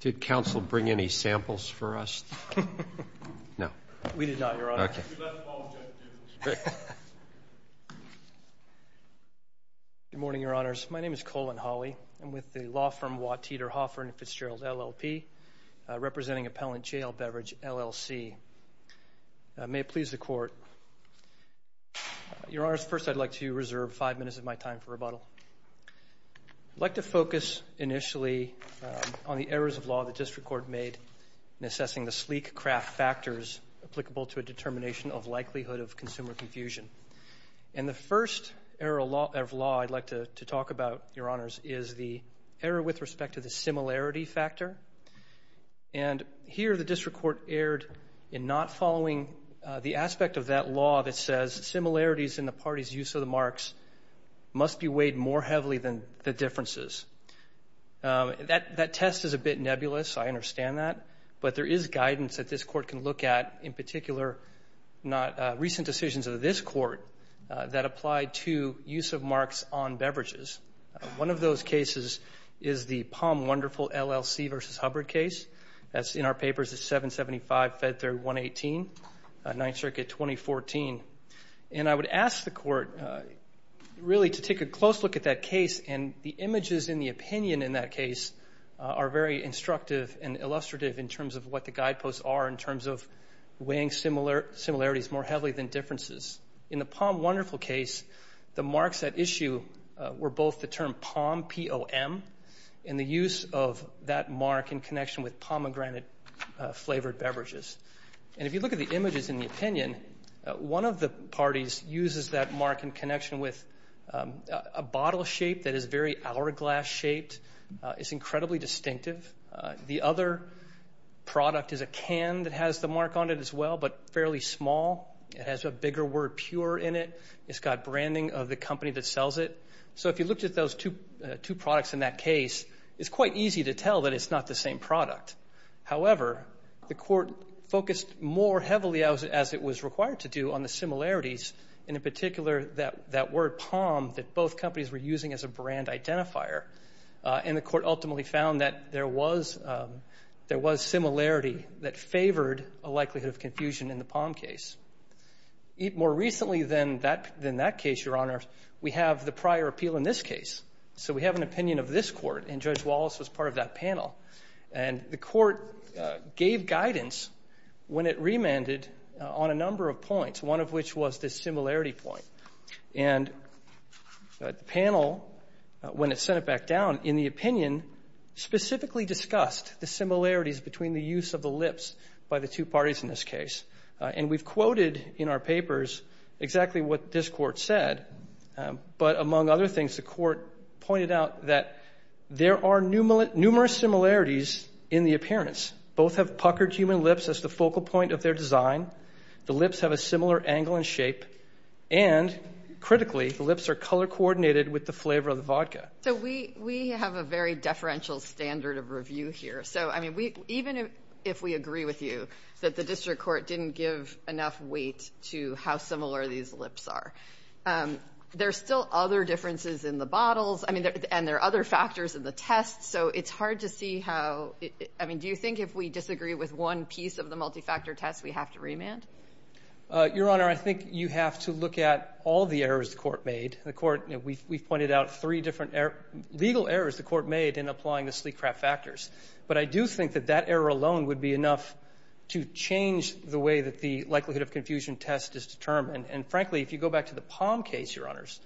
Did counsel bring any samples for us? No. We did not, Your Honor. Okay. Good morning, Your Honors. My name is Colin Hawley. I'm with the law firm Watt, Teeter, Hoffer & Fitzgerald, LLP, representing Appellant JL Beverage, LLC. May it please the Court. Your Honors, first I'd like to reserve five minutes of my time for rebuttal. I'd like to focus initially on the errors of law the district court made in assessing the sleek craft factors applicable to a determination of likelihood of consumer confusion. And the first error of law I'd like to talk about, Your Honors, is the error with respect to the similarity factor. And here the district court erred in not following the aspect of that law that says similarities in the party's use of the marks must be weighed more heavily than the differences. That test is a bit nebulous. I understand that. But there is guidance that this Court can look at, in particular recent decisions of this Court that apply to use of marks on beverages. One of those cases is the Palm Wonderful, LLC v. Hubbard case. That's in our papers. It's 775 Fed 3, 118, 9th Circuit, 2014. And I would ask the Court really to take a close look at that case, and the images and the opinion in that case are very instructive and illustrative in terms of what the guideposts are in terms of weighing similarities more heavily than differences. In the Palm Wonderful case, the marks at issue were both the term Palm, P-O-M, and the use of that mark in connection with pomegranate-flavored beverages. And if you look at the images and the opinion, one of the parties uses that mark in connection with a bottle shape that is very hourglass-shaped. It's incredibly distinctive. The other product is a can that has the mark on it as well, but fairly small. It has a bigger word, pure, in it. It's got branding of the company that sells it. So if you looked at those two products in that case, it's quite easy to tell that it's not the same product. However, the Court focused more heavily, as it was required to do, on the similarities, and in particular that word Palm that both companies were using as a brand identifier. And the Court ultimately found that there was similarity that favored a likelihood of confusion in the Palm case. More recently than that case, Your Honor, we have the prior appeal in this case. So we have an opinion of this Court, and Judge Wallace was part of that panel. And the Court gave guidance when it remanded on a number of points, one of which was this similarity point. And the panel, when it sent it back down, in the opinion, specifically discussed the similarities between the use of the lips by the two parties in this case. And we've quoted in our papers exactly what this Court said. But among other things, the Court pointed out that there are numerous similarities in the appearance. Both have puckered human lips as the focal point of their design. The lips have a similar angle and shape. And, critically, the lips are color-coordinated with the flavor of the vodka. So we have a very deferential standard of review here. So, I mean, even if we agree with you that the District Court didn't give enough weight to how similar these lips are, there are still other differences in the bottles, and there are other factors in the test. So it's hard to see how – I mean, do you think if we disagree with one piece of the multifactor test, we have to remand? Your Honor, I think you have to look at all the errors the Court made. We've pointed out three different legal errors the Court made in applying the sleek craft factors. But I do think that that error alone would be enough to change the way that the likelihood of confusion test is determined. And, frankly, if you go back to the Palm case, Your Honors,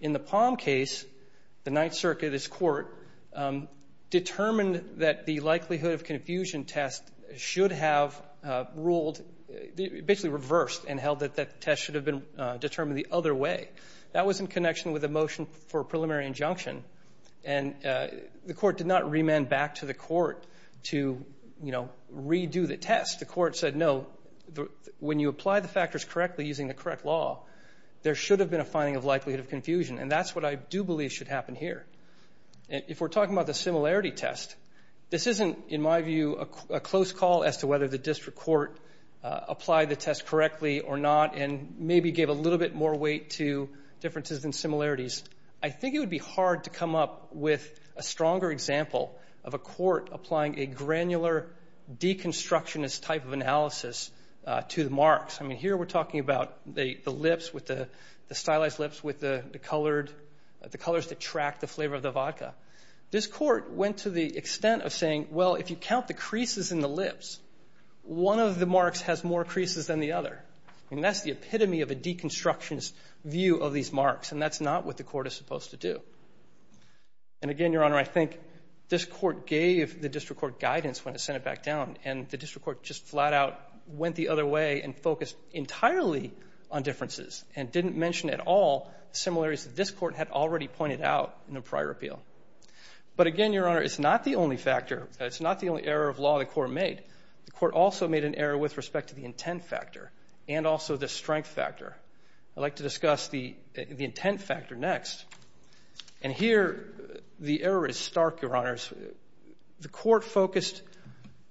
in the Palm case, the Ninth Circuit, this Court, determined that the likelihood of confusion test should have ruled – basically reversed and held that that test should have been determined the other way. That was in connection with the motion for preliminary injunction. And the Court did not remand back to the Court to, you know, redo the test. The Court said, no, when you apply the factors correctly using the correct law, there should have been a finding of likelihood of confusion. And that's what I do believe should happen here. If we're talking about the similarity test, this isn't, in my view, a close call as to whether the District Court applied the test correctly or not and maybe gave a little bit more weight to differences than similarities. I think it would be hard to come up with a stronger example of a court applying a granular, deconstructionist type of analysis to the marks. I mean, here we're talking about the lips, the stylized lips with the colors that track the flavor of the vodka. This court went to the extent of saying, well, if you count the creases in the lips, one of the marks has more creases than the other. And that's the epitome of a deconstructionist view of these marks. And that's not what the Court is supposed to do. And, again, Your Honor, I think this Court gave the District Court guidance when it sent it back down. And the District Court just flat out went the other way and focused entirely on differences and didn't mention at all similarities that this Court had already pointed out in a prior appeal. But, again, Your Honor, it's not the only factor. It's not the only error of law the Court made. The Court also made an error with respect to the intent factor and also the strength factor. I'd like to discuss the intent factor next. And here the error is stark, Your Honors. The Court focused,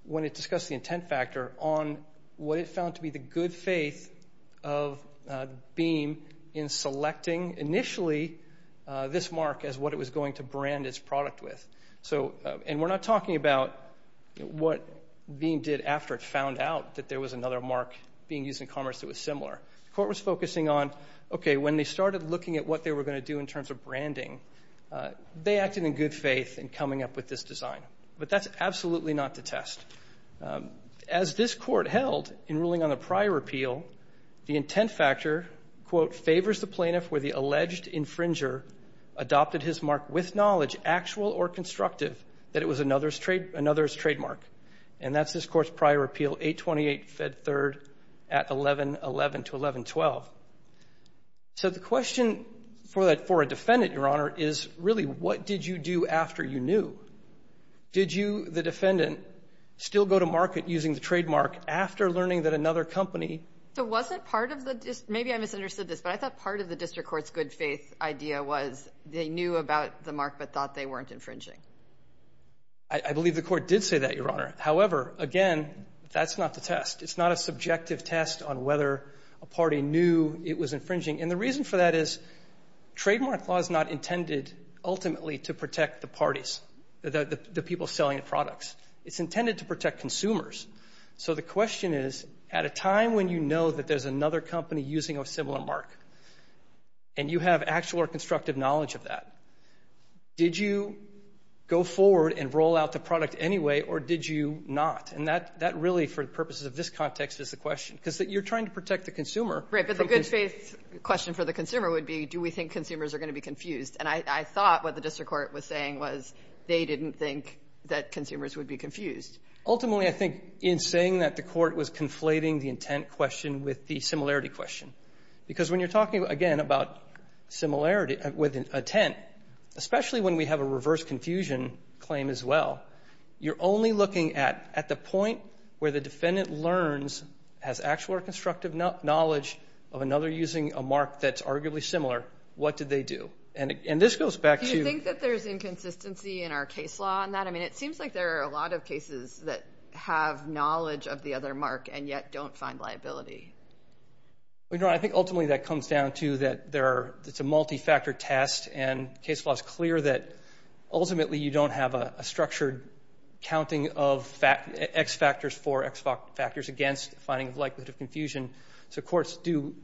when it discussed the intent factor, on what it found to be the good faith of Beam in selecting initially this mark as what it was going to brand its product with. And we're not talking about what Beam did after it found out that there was another mark being used in commerce that was similar. The Court was focusing on, okay, when they started looking at what they were going to do in terms of branding, they acted in good faith in coming up with this design. But that's absolutely not the test. As this Court held in ruling on the prior appeal, the intent factor, quote, favors the plaintiff where the alleged infringer adopted his mark with knowledge, actual or constructive, that it was another's trademark. And that's this Court's prior appeal, 828 Fed 3rd at 11-11 to 11-12. So the question for a defendant, Your Honor, is really what did you do after you knew? Did you, the defendant, still go to market using the trademark after learning that another company – So wasn't part of the – maybe I misunderstood this, but I thought part of the district court's good faith idea was they knew about the mark but thought they weren't infringing. I believe the Court did say that, Your Honor. However, again, that's not the test. It's not a subjective test on whether a party knew it was infringing. And the reason for that is trademark law is not intended ultimately to protect the parties, the people selling the products. It's intended to protect consumers. So the question is, at a time when you know that there's another company using a similar mark and you have actual or constructive knowledge of that, did you go forward and roll out the product anyway or did you not? And that really, for the purposes of this context, is the question. Because you're trying to protect the consumer. Right, but the good faith question for the consumer would be, do we think consumers are going to be confused? And I thought what the district court was saying was they didn't think that consumers would be confused. Ultimately, I think in saying that, the Court was conflating the intent question with the similarity question. Because when you're talking, again, about similarity with intent, especially when we have a reverse confusion claim as well, you're only looking at the point where the defendant learns, has actual or constructive knowledge of another using a mark that's arguably similar. What did they do? And this goes back to – Do you think that there's inconsistency in our case law on that? I mean, it seems like there are a lot of cases that have knowledge of the other mark and yet don't find liability. I think ultimately that comes down to that it's a multi-factor test and case law is clear that ultimately you don't have a structured counting of X factors for X factors against finding likelihood of confusion. So courts do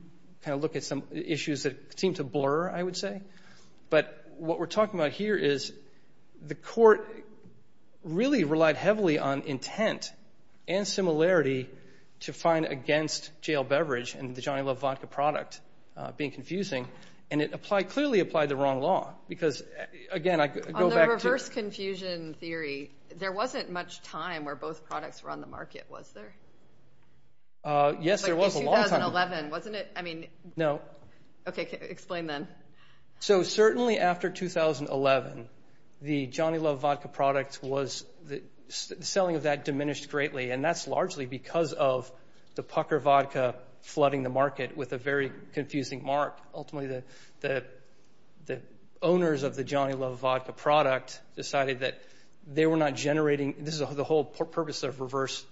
kind of look at some issues that seem to blur, I would say. But what we're talking about here is the court really relied heavily on intent and similarity to find against jail beverage and the Johnny Love Vodka product being confusing. And it clearly applied the wrong law because, again, I go back to – On the reverse confusion theory, there wasn't much time where both products were on the market, was there? Yes, there was a long time. But in 2011, wasn't it? I mean – No. Okay, explain then. So certainly after 2011, the Johnny Love Vodka product was – because of the Pucker Vodka flooding the market with a very confusing mark, ultimately the owners of the Johnny Love Vodka product decided that they were not generating – this is the whole purpose of reverse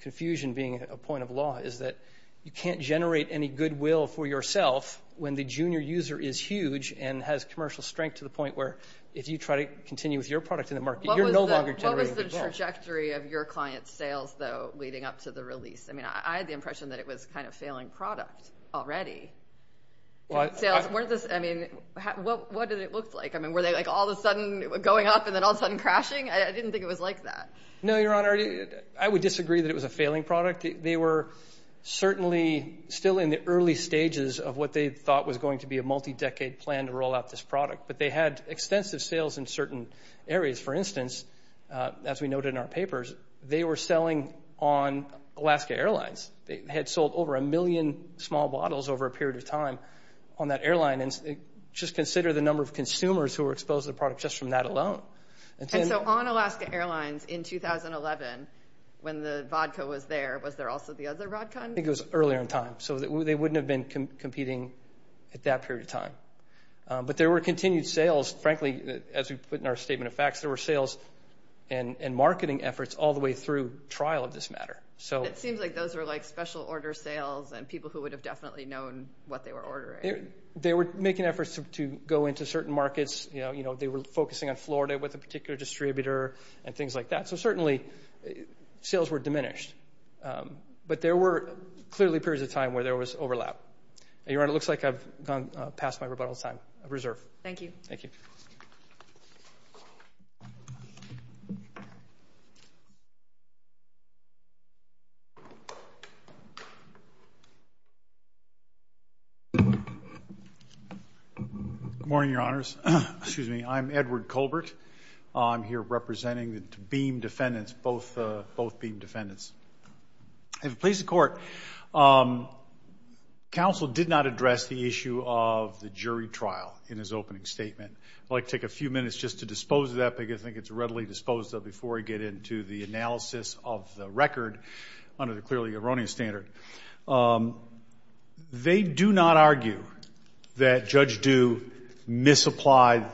confusion being a point of law is that you can't generate any goodwill for yourself when the junior user is huge and has commercial strength to the point where if you try to continue with your product in the market, you're no longer generating goodwill. What was the trajectory of your client's sales, though, leading up to the release? I mean, I had the impression that it was kind of a failing product already. I mean, what did it look like? I mean, were they like all of a sudden going up and then all of a sudden crashing? I didn't think it was like that. No, Your Honor. I would disagree that it was a failing product. They were certainly still in the early stages of what they thought was going to be a multi-decade plan to roll out this product. But they had extensive sales in certain areas. For instance, as we noted in our papers, they were selling on Alaska Airlines. They had sold over a million small bottles over a period of time on that airline. Just consider the number of consumers who were exposed to the product just from that alone. And so on Alaska Airlines in 2011 when the vodka was there, was there also the other vodka? I think it was earlier in time. So they wouldn't have been competing at that period of time. But there were continued sales. Frankly, as we put in our statement of facts, there were sales and marketing efforts all the way through trial of this matter. It seems like those were like special order sales and people who would have definitely known what they were ordering. They were making efforts to go into certain markets. They were focusing on Florida with a particular distributor and things like that. So certainly sales were diminished. But there were clearly periods of time where there was overlap. Your Honor, it looks like I've gone past my rebuttal time of reserve. Thank you. Thank you. Good morning, Your Honors. Excuse me. I'm Edward Colbert. I'm here representing the Beam defendants, both Beam defendants. In the place of court, counsel did not address the issue of the jury trial in his opening statement. I'd like to take a few minutes just to dispose of that, because I think it's readily disposed of before we get into the analysis of the record under the clearly erroneous standard. They do not argue that Judge Due misapplied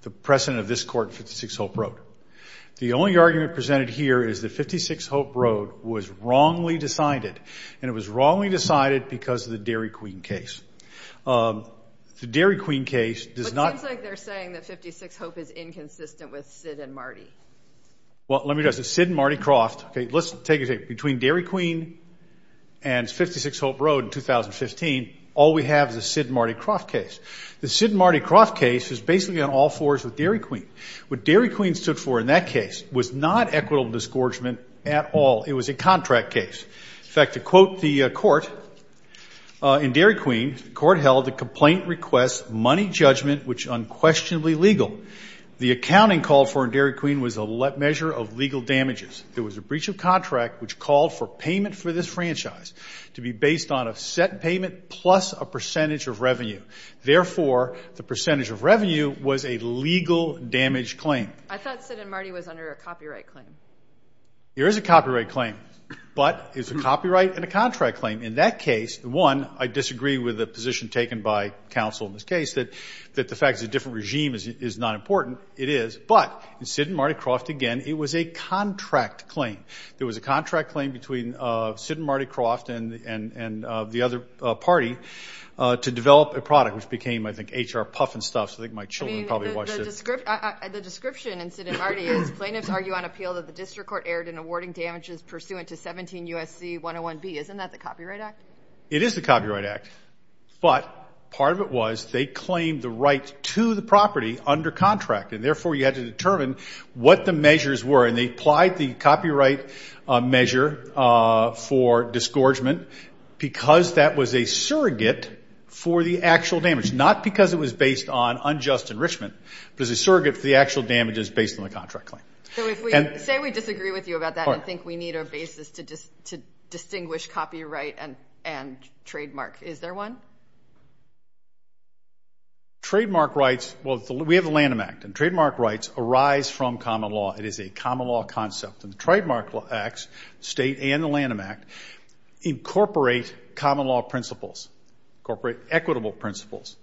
the precedent of this court in 56 Hope Road. The only argument presented here is that 56 Hope Road was wrongly decided, and it was wrongly decided because of the Dairy Queen case. The Dairy Queen case does not. But it seems like they're saying that 56 Hope is inconsistent with Sid and Marty. Well, let me address it. Sid and Marty Croft. Okay, let's take it between Dairy Queen and 56 Hope Road in 2015, all we have is a Sid and Marty Croft case. The Sid and Marty Croft case is basically on all fours with Dairy Queen. What Dairy Queen stood for in that case was not equitable disgorgement at all. It was a contract case. In fact, to quote the court, in Dairy Queen, the court held the complaint requests money judgment was unquestionably legal. The accounting called for in Dairy Queen was a measure of legal damages. There was a breach of contract which called for payment for this franchise to be based on a set payment plus a percentage of revenue. Therefore, the percentage of revenue was a legal damage claim. I thought Sid and Marty was under a copyright claim. There is a copyright claim, but it's a copyright and a contract claim. In that case, one, I disagree with the position taken by counsel in this case that the fact it's a different regime is not important. It is, but in Sid and Marty Croft, again, it was a contract claim. There was a contract claim between Sid and Marty Croft and the other party to develop a product which became, I think, HR Puff and Stuff. I think my children probably watched it. The description in Sid and Marty is plaintiffs argue on appeal that the district court erred in awarding damages pursuant to 17 U.S.C. 101B. Isn't that the Copyright Act? It is the Copyright Act, but part of it was they claimed the right to the property under contract, and therefore you had to determine what the measures were. And they applied the copyright measure for disgorgement because that was a surrogate for the actual damage, not because it was based on unjust enrichment, but as a surrogate for the actual damages based on the contract claim. So say we disagree with you about that and think we need a basis to distinguish copyright and trademark. Is there one? Trademark rights, well, we have the Lanham Act, and trademark rights arise from common law. It is a common law concept. And the Trademark Act, state and the Lanham Act, incorporate common law principles, incorporate equitable principles.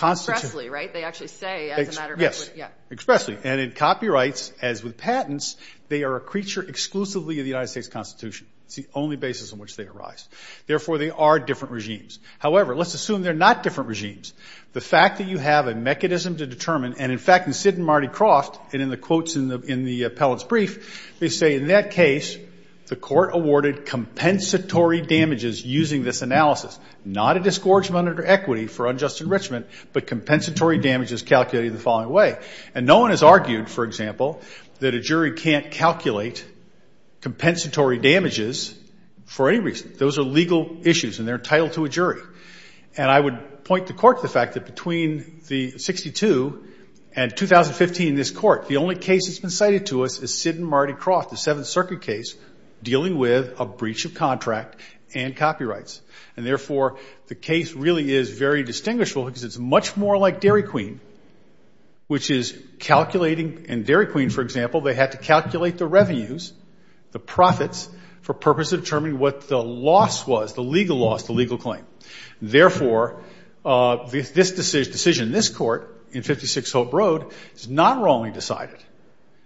Expressly, right? They actually say as a matter of equity. Yes, expressly. And in copyrights, as with patents, they are a creature exclusively of the United States Constitution. It's the only basis on which they arise. Therefore, they are different regimes. However, let's assume they're not different regimes. The fact that you have a mechanism to determine, and, in fact, Sid and Marty crossed, and in the quotes in the appellate's brief, they say, in that case, the court awarded compensatory damages using this analysis. Not a disgorgement under equity for unjust enrichment, but compensatory damages calculated the following way. And no one has argued, for example, that a jury can't calculate compensatory damages for any reason. Those are legal issues, and they're entitled to a jury. And I would point the court to the fact that between the 62 and 2015 in this court, the only case that's been cited to us is Sid and Marty Croft, the Seventh Circuit case dealing with a breach of contract and copyrights. And, therefore, the case really is very distinguishable because it's much more like Dairy Queen, which is calculating. In Dairy Queen, for example, they had to calculate the revenues, the profits, for purpose of determining what the loss was, the legal loss, the legal claim. Therefore, this decision in this court, in 56 Hope Road, is not wrongly decided.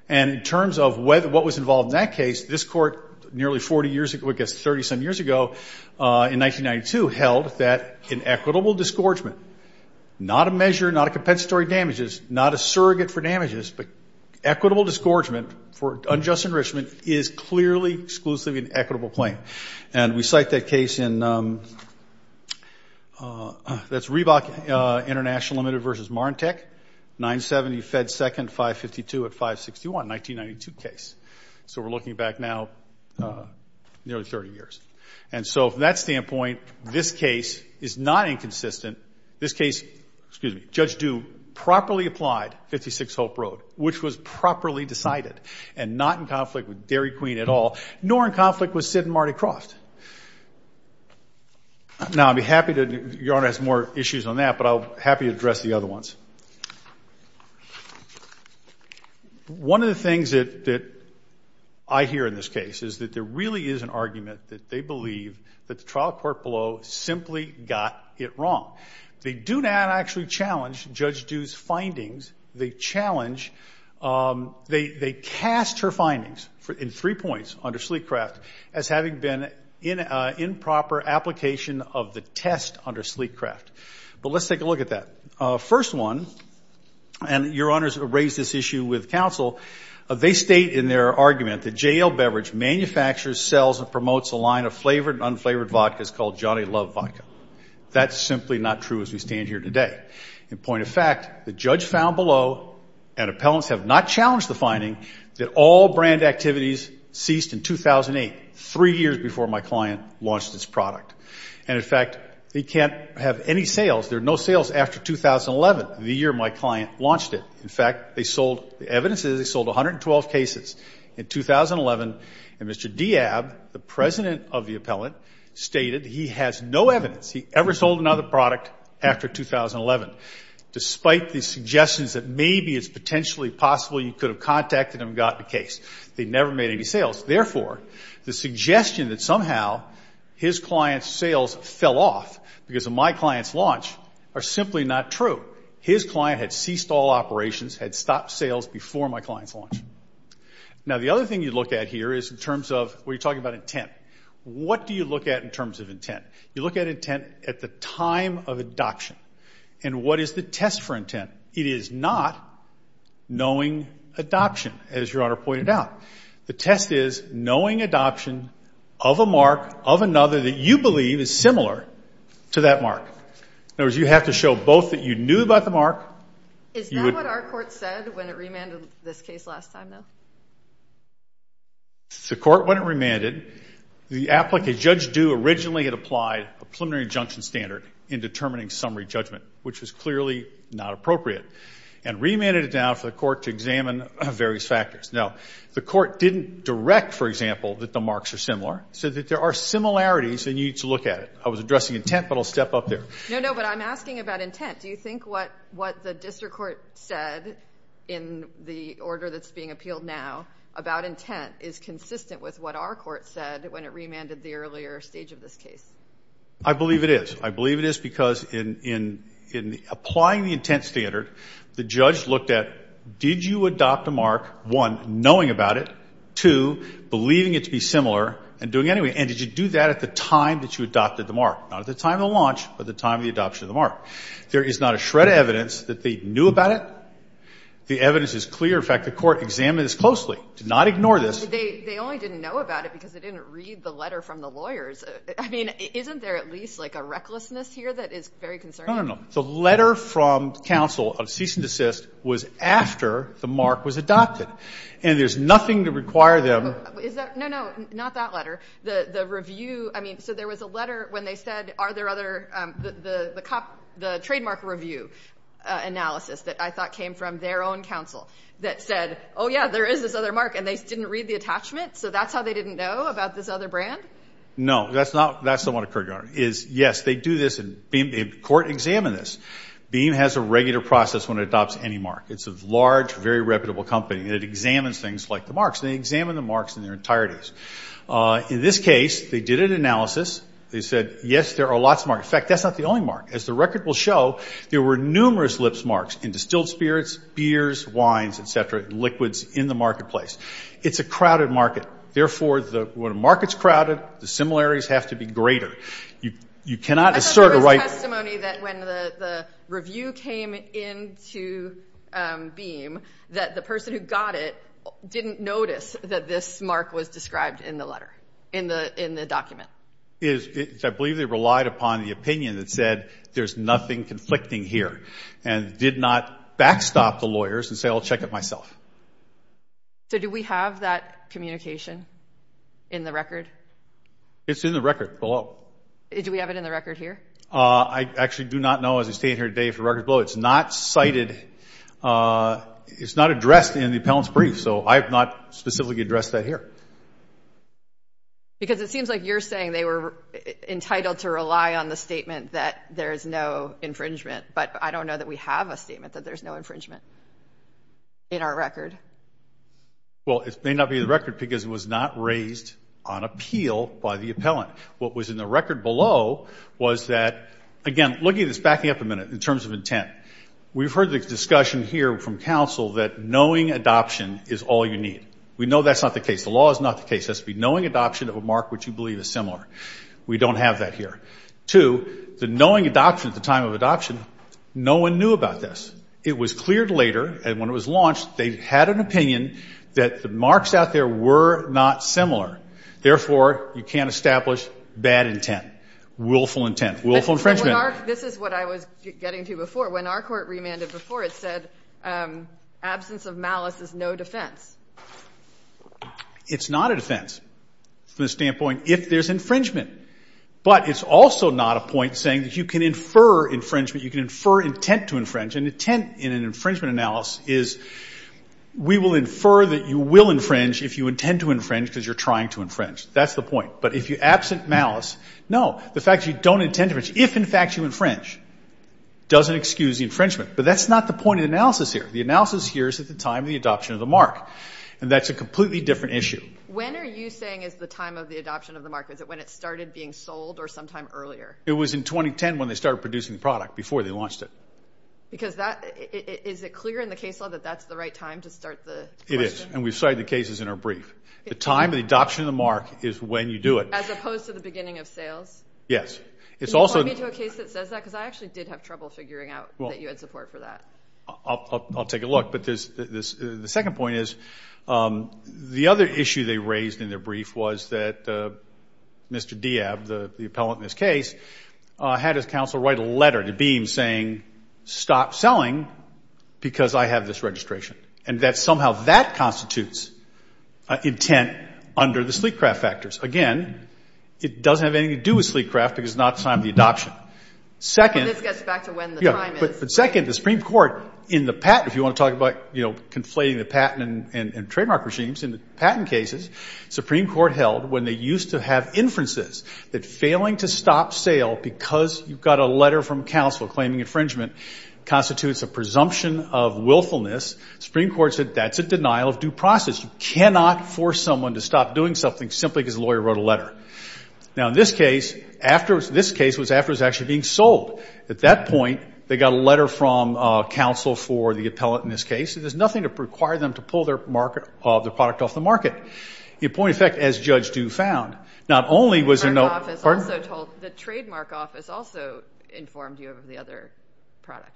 And in terms of what was involved in that case, this court nearly 40 years ago, I guess 30-some years ago, in 1992, held that an equitable disgorgement, not a measure, not a compensatory damages, not a surrogate for damages, but equitable disgorgement for unjust enrichment is clearly exclusively an equitable claim. And we cite that case in Reebok International Limited v. Marntek, 970 Fed Second, 552 at 561, 1992 case. So we're looking back now nearly 30 years. And so from that standpoint, this case is not inconsistent. This case, excuse me, Judge Dew properly applied 56 Hope Road, which was properly decided and not in conflict with Dairy Queen at all, nor in conflict with Sid and Marty Kroft. Now, I'd be happy to, Your Honor has more issues on that, but I'll be happy to address the other ones. One of the things that I hear in this case is that there really is an argument that they believe that the trial court below simply got it wrong. They do not actually challenge Judge Dew's findings. They challenge, they cast her findings in three points under Sleekcraft as having been improper application of the test under Sleekcraft. But let's take a look at that. First one, and Your Honors raised this issue with counsel, they state in their argument that J.L. Beverage manufactures, sells, and promotes a line of flavored and unflavored vodkas called Johnny Love Vodka. That's simply not true as we stand here today. In point of fact, the judge found below, and appellants have not challenged the finding, that all brand activities ceased in 2008, three years before my client launched its product. And, in fact, they can't have any sales. There are no sales after 2011, the year my client launched it. In fact, they sold, the evidence is they sold 112 cases in 2011, and Mr. Diab, the president of the appellant, stated he has no evidence. He ever sold another product after 2011, despite the suggestions that maybe it's potentially possible you could have contacted him and gotten a case. They never made any sales. Therefore, the suggestion that somehow his client's sales fell off because of my client's launch are simply not true. His client had ceased all operations, had stopped sales before my client's launch. Now, the other thing you look at here is in terms of when you're talking about intent. What do you look at in terms of intent? You look at intent at the time of adoption. And what is the test for intent? It is not knowing adoption, as Your Honor pointed out. The test is knowing adoption of a mark, of another, that you believe is similar to that mark. In other words, you have to show both that you knew about the mark. Is that what our court said when it remanded this case last time, though? The court, when it remanded, the applicant, Judge Due, originally had applied a preliminary injunction standard in determining summary judgment, which was clearly not appropriate, and remanded it down for the court to examine various factors. Now, the court didn't direct, for example, that the marks are similar. It said that there are similarities, and you need to look at it. I was addressing intent, but I'll step up there. No, no, but I'm asking about intent. Do you think what the district court said in the order that's being appealed now about intent is consistent with what our court said when it remanded the earlier stage of this case? I believe it is. I believe it is because in applying the intent standard, the judge looked at did you adopt a mark, one, knowing about it, two, believing it to be similar, and doing anyway. And did you do that at the time that you adopted the mark? Not at the time of the launch, but the time of the adoption of the mark. There is not a shred of evidence that they knew about it. The evidence is clear. In fact, the court examined this closely, did not ignore this. They only didn't know about it because they didn't read the letter from the lawyers. I mean, isn't there at least like a recklessness here that is very concerning? No, no, no. The letter from counsel of cease and desist was after the mark was adopted, and there's nothing to require them. Is that? No, no. Not that letter. The review, I mean, so there was a letter when they said are there other, the trademark review analysis that I thought came from their own counsel that said, oh, yeah, there is this other mark, and they didn't read the attachment, so that's how they didn't know about this other brand? No, that's not what occurred, Your Honor. Yes, they do this, and the court examined this. BEAM has a regular process when it adopts any mark. It's a large, very reputable company, and it examines things like the marks, and they examine the marks in their entirety. In this case, they did an analysis. They said, yes, there are lots of marks. In fact, that's not the only mark. As the record will show, there were numerous lips marks in distilled spirits, beers, wines, et cetera, liquids in the marketplace. It's a crowded market. Therefore, when a market's crowded, the similarities have to be greater. You cannot assert a right. There was testimony that when the review came into BEAM that the person who got it didn't notice that this mark was described in the letter, in the document. I believe they relied upon the opinion that said there's nothing conflicting here and did not backstop the lawyers and say, I'll check it myself. So do we have that communication in the record? It's in the record below. Do we have it in the record here? I actually do not know. As I stand here today for record below, it's not cited. It's not addressed in the appellant's brief, so I have not specifically addressed that here. Because it seems like you're saying they were entitled to rely on the statement that there is no infringement, but I don't know that we have a statement that there's no infringement in our record. Well, it may not be in the record because it was not raised on appeal by the appellant. What was in the record below was that, again, looking at this, backing up a minute in terms of intent, we've heard the discussion here from counsel that knowing adoption is all you need. We know that's not the case. The law is not the case. It has to be knowing adoption of a mark which you believe is similar. We don't have that here. Two, the knowing adoption at the time of adoption, no one knew about this. It was cleared later, and when it was launched, they had an opinion that the marks out there were not similar. Therefore, you can't establish bad intent, willful intent, willful infringement. This is what I was getting to before. When our court remanded before, it said absence of malice is no defense. It's not a defense from the standpoint if there's infringement. But it's also not a point saying that you can infer infringement, you can infer intent to infringe. An intent in an infringement analysis is we will infer that you will infringe if you intend to infringe because you're trying to infringe. That's the point. But if you absent malice, no. The fact that you don't intend to infringe, if in fact you infringe, doesn't excuse the infringement. But that's not the point of the analysis here. The analysis here is at the time of the adoption of the mark, and that's a completely different issue. When are you saying is the time of the adoption of the mark? Is it when it started being sold or sometime earlier? It was in 2010 when they started producing the product, before they launched it. Because that, is it clear in the case law that that's the right time to start the question? It is, and we've cited the cases in our brief. The time of the adoption of the mark is when you do it. As opposed to the beginning of sales? Yes. Can you point me to a case that says that? Because I actually did have trouble figuring out that you had support for that. I'll take a look. But the second point is the other issue they raised in their brief was that Mr. Diab, the appellant in this case, had his counsel write a letter to Beam saying stop selling because I have this registration. And that somehow that constitutes intent under the sleek craft factors. Again, it doesn't have anything to do with sleek craft because it's not the time of the adoption. And this gets back to when the time is. But second, the Supreme Court in the patent, if you want to talk about conflating the patent and trademark regimes, in the patent cases, Supreme Court held when they used to have inferences that failing to stop sale because you've got a letter from counsel claiming infringement constitutes a presumption of willfulness. Supreme Court said that's a denial of due process. You cannot force someone to stop doing something simply because the lawyer wrote a letter. Now, in this case, this case was after it was actually being sold. At that point, they got a letter from counsel for the appellant in this case. There's nothing to require them to pull their product off the market. In point of fact, as Judge Dew found, not only was there no – The trademark office also informed you of the other product.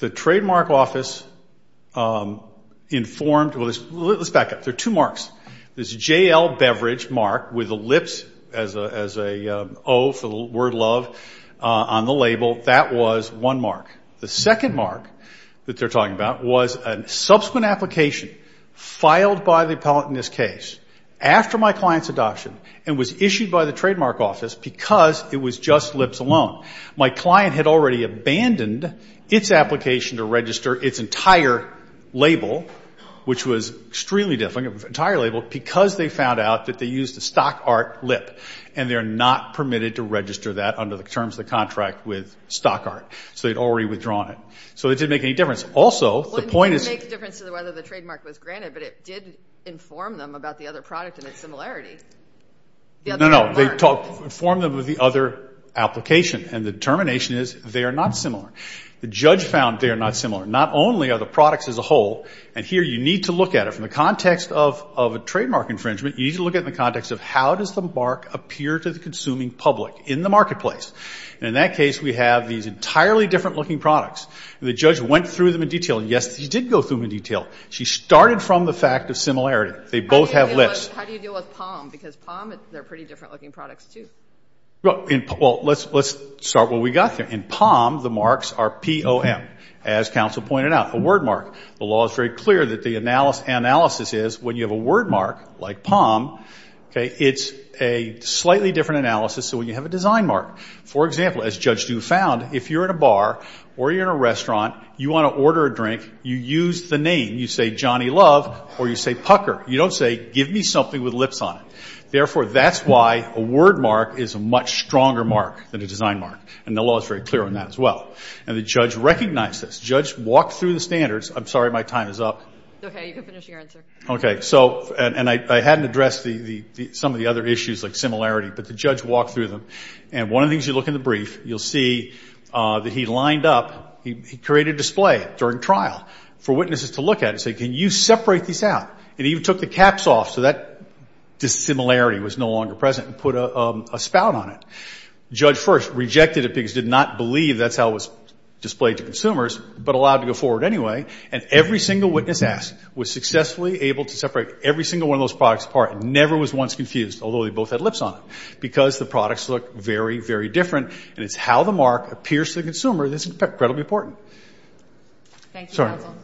The trademark office informed – well, let's back up. There are two marks. There's a JL beverage mark with a Lips as an O for the word love on the label. That was one mark. The second mark that they're talking about was a subsequent application filed by the appellant in this case after my client's adoption and was issued by the trademark office because it was just Lips alone. My client had already abandoned its application to register its entire label, which was extremely difficult, the entire label, because they found out that they used the stock art Lip, and they're not permitted to register that under the terms of the contract with stock art. So they'd already withdrawn it. So it didn't make any difference. Also, the point is – Well, it didn't make a difference to whether the trademark was granted, but it did inform them about the other product and its similarity. No, no. They informed them of the other application, and the determination is they are not similar. The judge found they are not similar. Not only are the products as a whole – and here you need to look at it. From the context of a trademark infringement, you need to look at it in the context of how does the mark appear to the consuming public in the marketplace. And in that case, we have these entirely different-looking products. The judge went through them in detail. Yes, he did go through them in detail. She started from the fact of similarity. They both have Lips. How do you deal with POM? Because POM, they're pretty different-looking products, too. Well, let's start where we got there. In POM, the marks are P-O-M, as counsel pointed out, a word mark. The law is very clear that the analysis is when you have a word mark, like POM, it's a slightly different analysis than when you have a design mark. For example, as Judge Dew found, if you're in a bar or you're in a restaurant, you want to order a drink, you use the name. You say Johnny Love or you say Pucker. You don't say give me something with Lips on it. Therefore, that's why a word mark is a much stronger mark than a design mark, and the law is very clear on that as well. And the judge recognized this. The judge walked through the standards. I'm sorry, my time is up. Okay, you can finish your answer. Okay. And I hadn't addressed some of the other issues like similarity, but the judge walked through them. And one of the things you look in the brief, you'll see that he lined up. He created a display during trial for witnesses to look at and say, can you separate these out? And he even took the caps off so that dissimilarity was no longer present and put a spout on it. Judge first rejected it because he did not believe that's how it was displayed to consumers, but allowed to go forward anyway. And every single witness asked was successfully able to separate every single one of those products apart and never was once confused, although they both had Lips on it, because the products look very, very different. And it's how the mark appears to the consumer that's incredibly important. Thank you, counsel.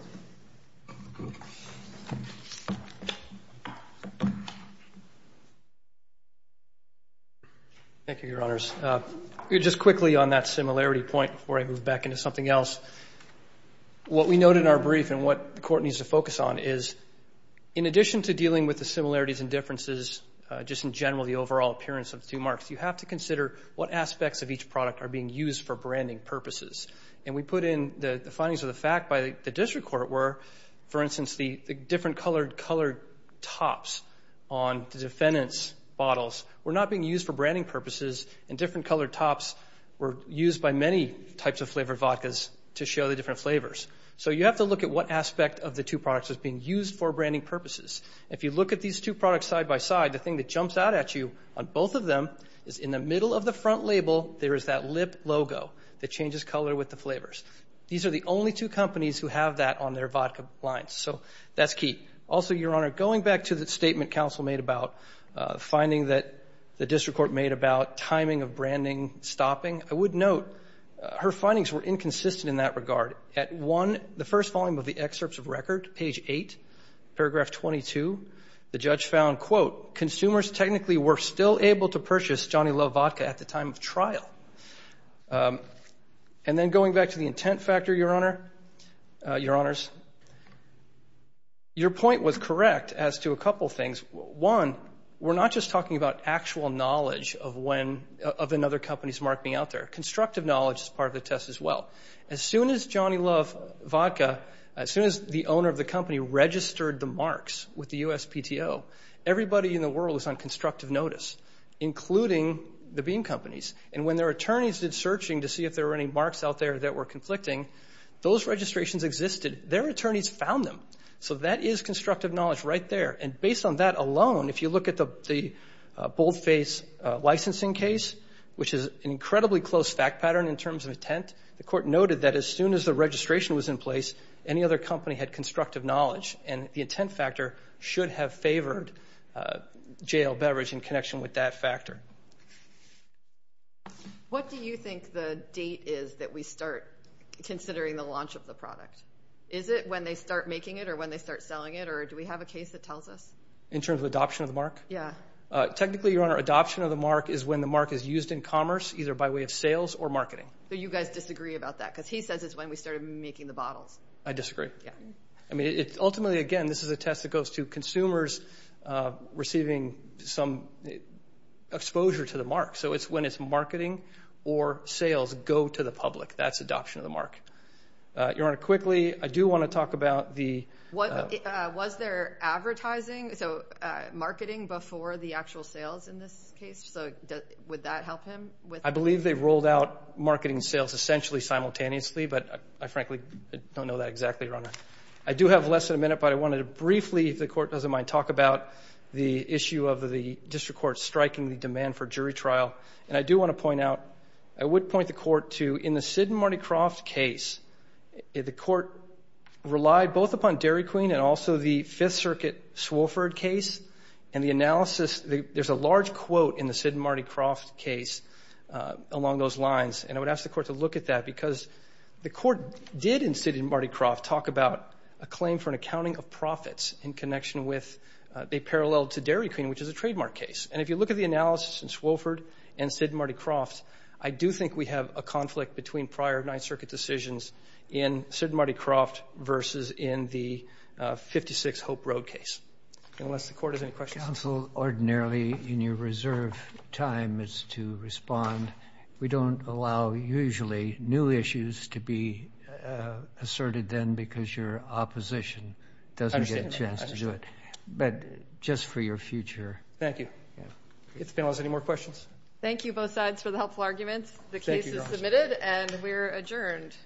Thank you, Your Honors. Just quickly on that similarity point before I move back into something else. What we note in our brief and what the court needs to focus on is, in addition to dealing with the similarities and differences, just in general the overall appearance of the two marks, you have to consider what aspects of each product are being used for branding purposes. And we put in the findings of the fact by the district court where, for instance, the different colored tops on the defendant's bottles were not being used for branding purposes and different colored tops were used by many types of flavored vodkas to show the different flavors. So you have to look at what aspect of the two products is being used for branding purposes. If you look at these two products side by side, the thing that jumps out at you on both of them is in the middle of the front label there is that lip logo that changes color with the flavors. These are the only two companies who have that on their vodka lines, so that's key. Also, Your Honor, going back to the statement counsel made about finding that the district court made about timing of branding stopping, I would note her findings were inconsistent in that regard. At one, the first volume of the excerpts of record, page 8, paragraph 22, the judge found, quote, consumers technically were still able to purchase Johnny Love Vodka at the time of trial. And then going back to the intent factor, Your Honors, your point was correct as to a couple things. One, we're not just talking about actual knowledge of another company's marketing out there. Constructive knowledge is part of the test as well. As soon as Johnny Love Vodka, as soon as the owner of the company registered the marks with the USPTO, everybody in the world was on constructive notice, including the bean companies. And when their attorneys did searching to see if there were any marks out there that were conflicting, those registrations existed. Their attorneys found them. So that is constructive knowledge right there. And based on that alone, if you look at the boldface licensing case, which is an incredibly close fact pattern in terms of intent, the court noted that as soon as the registration was in place, any other company had constructive knowledge. And the intent factor should have favored JL Beverage in connection with that factor. What do you think the date is that we start considering the launch of the product? Is it when they start making it or when they start selling it, or do we have a case that tells us? In terms of adoption of the mark? Yeah. Technically, Your Honor, adoption of the mark is when the mark is used in commerce, either by way of sales or marketing. So you guys disagree about that because he says it's when we started making the bottles. I disagree. Yeah. I mean, ultimately, again, this is a test that goes to consumers receiving some exposure to the mark. So it's when it's marketing or sales go to the public. That's adoption of the mark. Your Honor, quickly, I do want to talk about the – Was there advertising, so marketing before the actual sales in this case? So would that help him? I believe they rolled out marketing and sales essentially simultaneously, but I frankly don't know that exactly, Your Honor. I do have less than a minute, but I wanted to briefly, if the Court doesn't mind, talk about the issue of the district court striking the demand for jury trial. And I do want to point out, I would point the Court to, in the Sid and Marty Croft case, the Court relied both upon Dairy Queen and also the Fifth Circuit Swofford case, and the analysis – there's a large quote in the Sid and Marty Croft case along those lines, and I would ask the Court to look at that because the Court did, in Sid and Marty Croft, talk about a claim for an accounting of profits in connection with – they paralleled to Dairy Queen, which is a trademark case. And if you look at the analysis in Swofford and Sid and Marty Croft, I do think we have a conflict between prior Ninth Circuit decisions in Sid and Marty Croft versus in the 56 Hope Road case. Unless the Court has any questions. Counsel, ordinarily in your reserve time is to respond. We don't allow, usually, new issues to be asserted then because your opposition doesn't get a chance to do it. But just for your future. Thank you. If the panel has any more questions. Thank you, both sides, for the helpful arguments. The case is submitted and we're adjourned.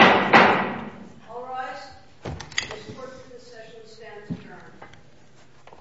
All rise. The support for this session stands adjourned.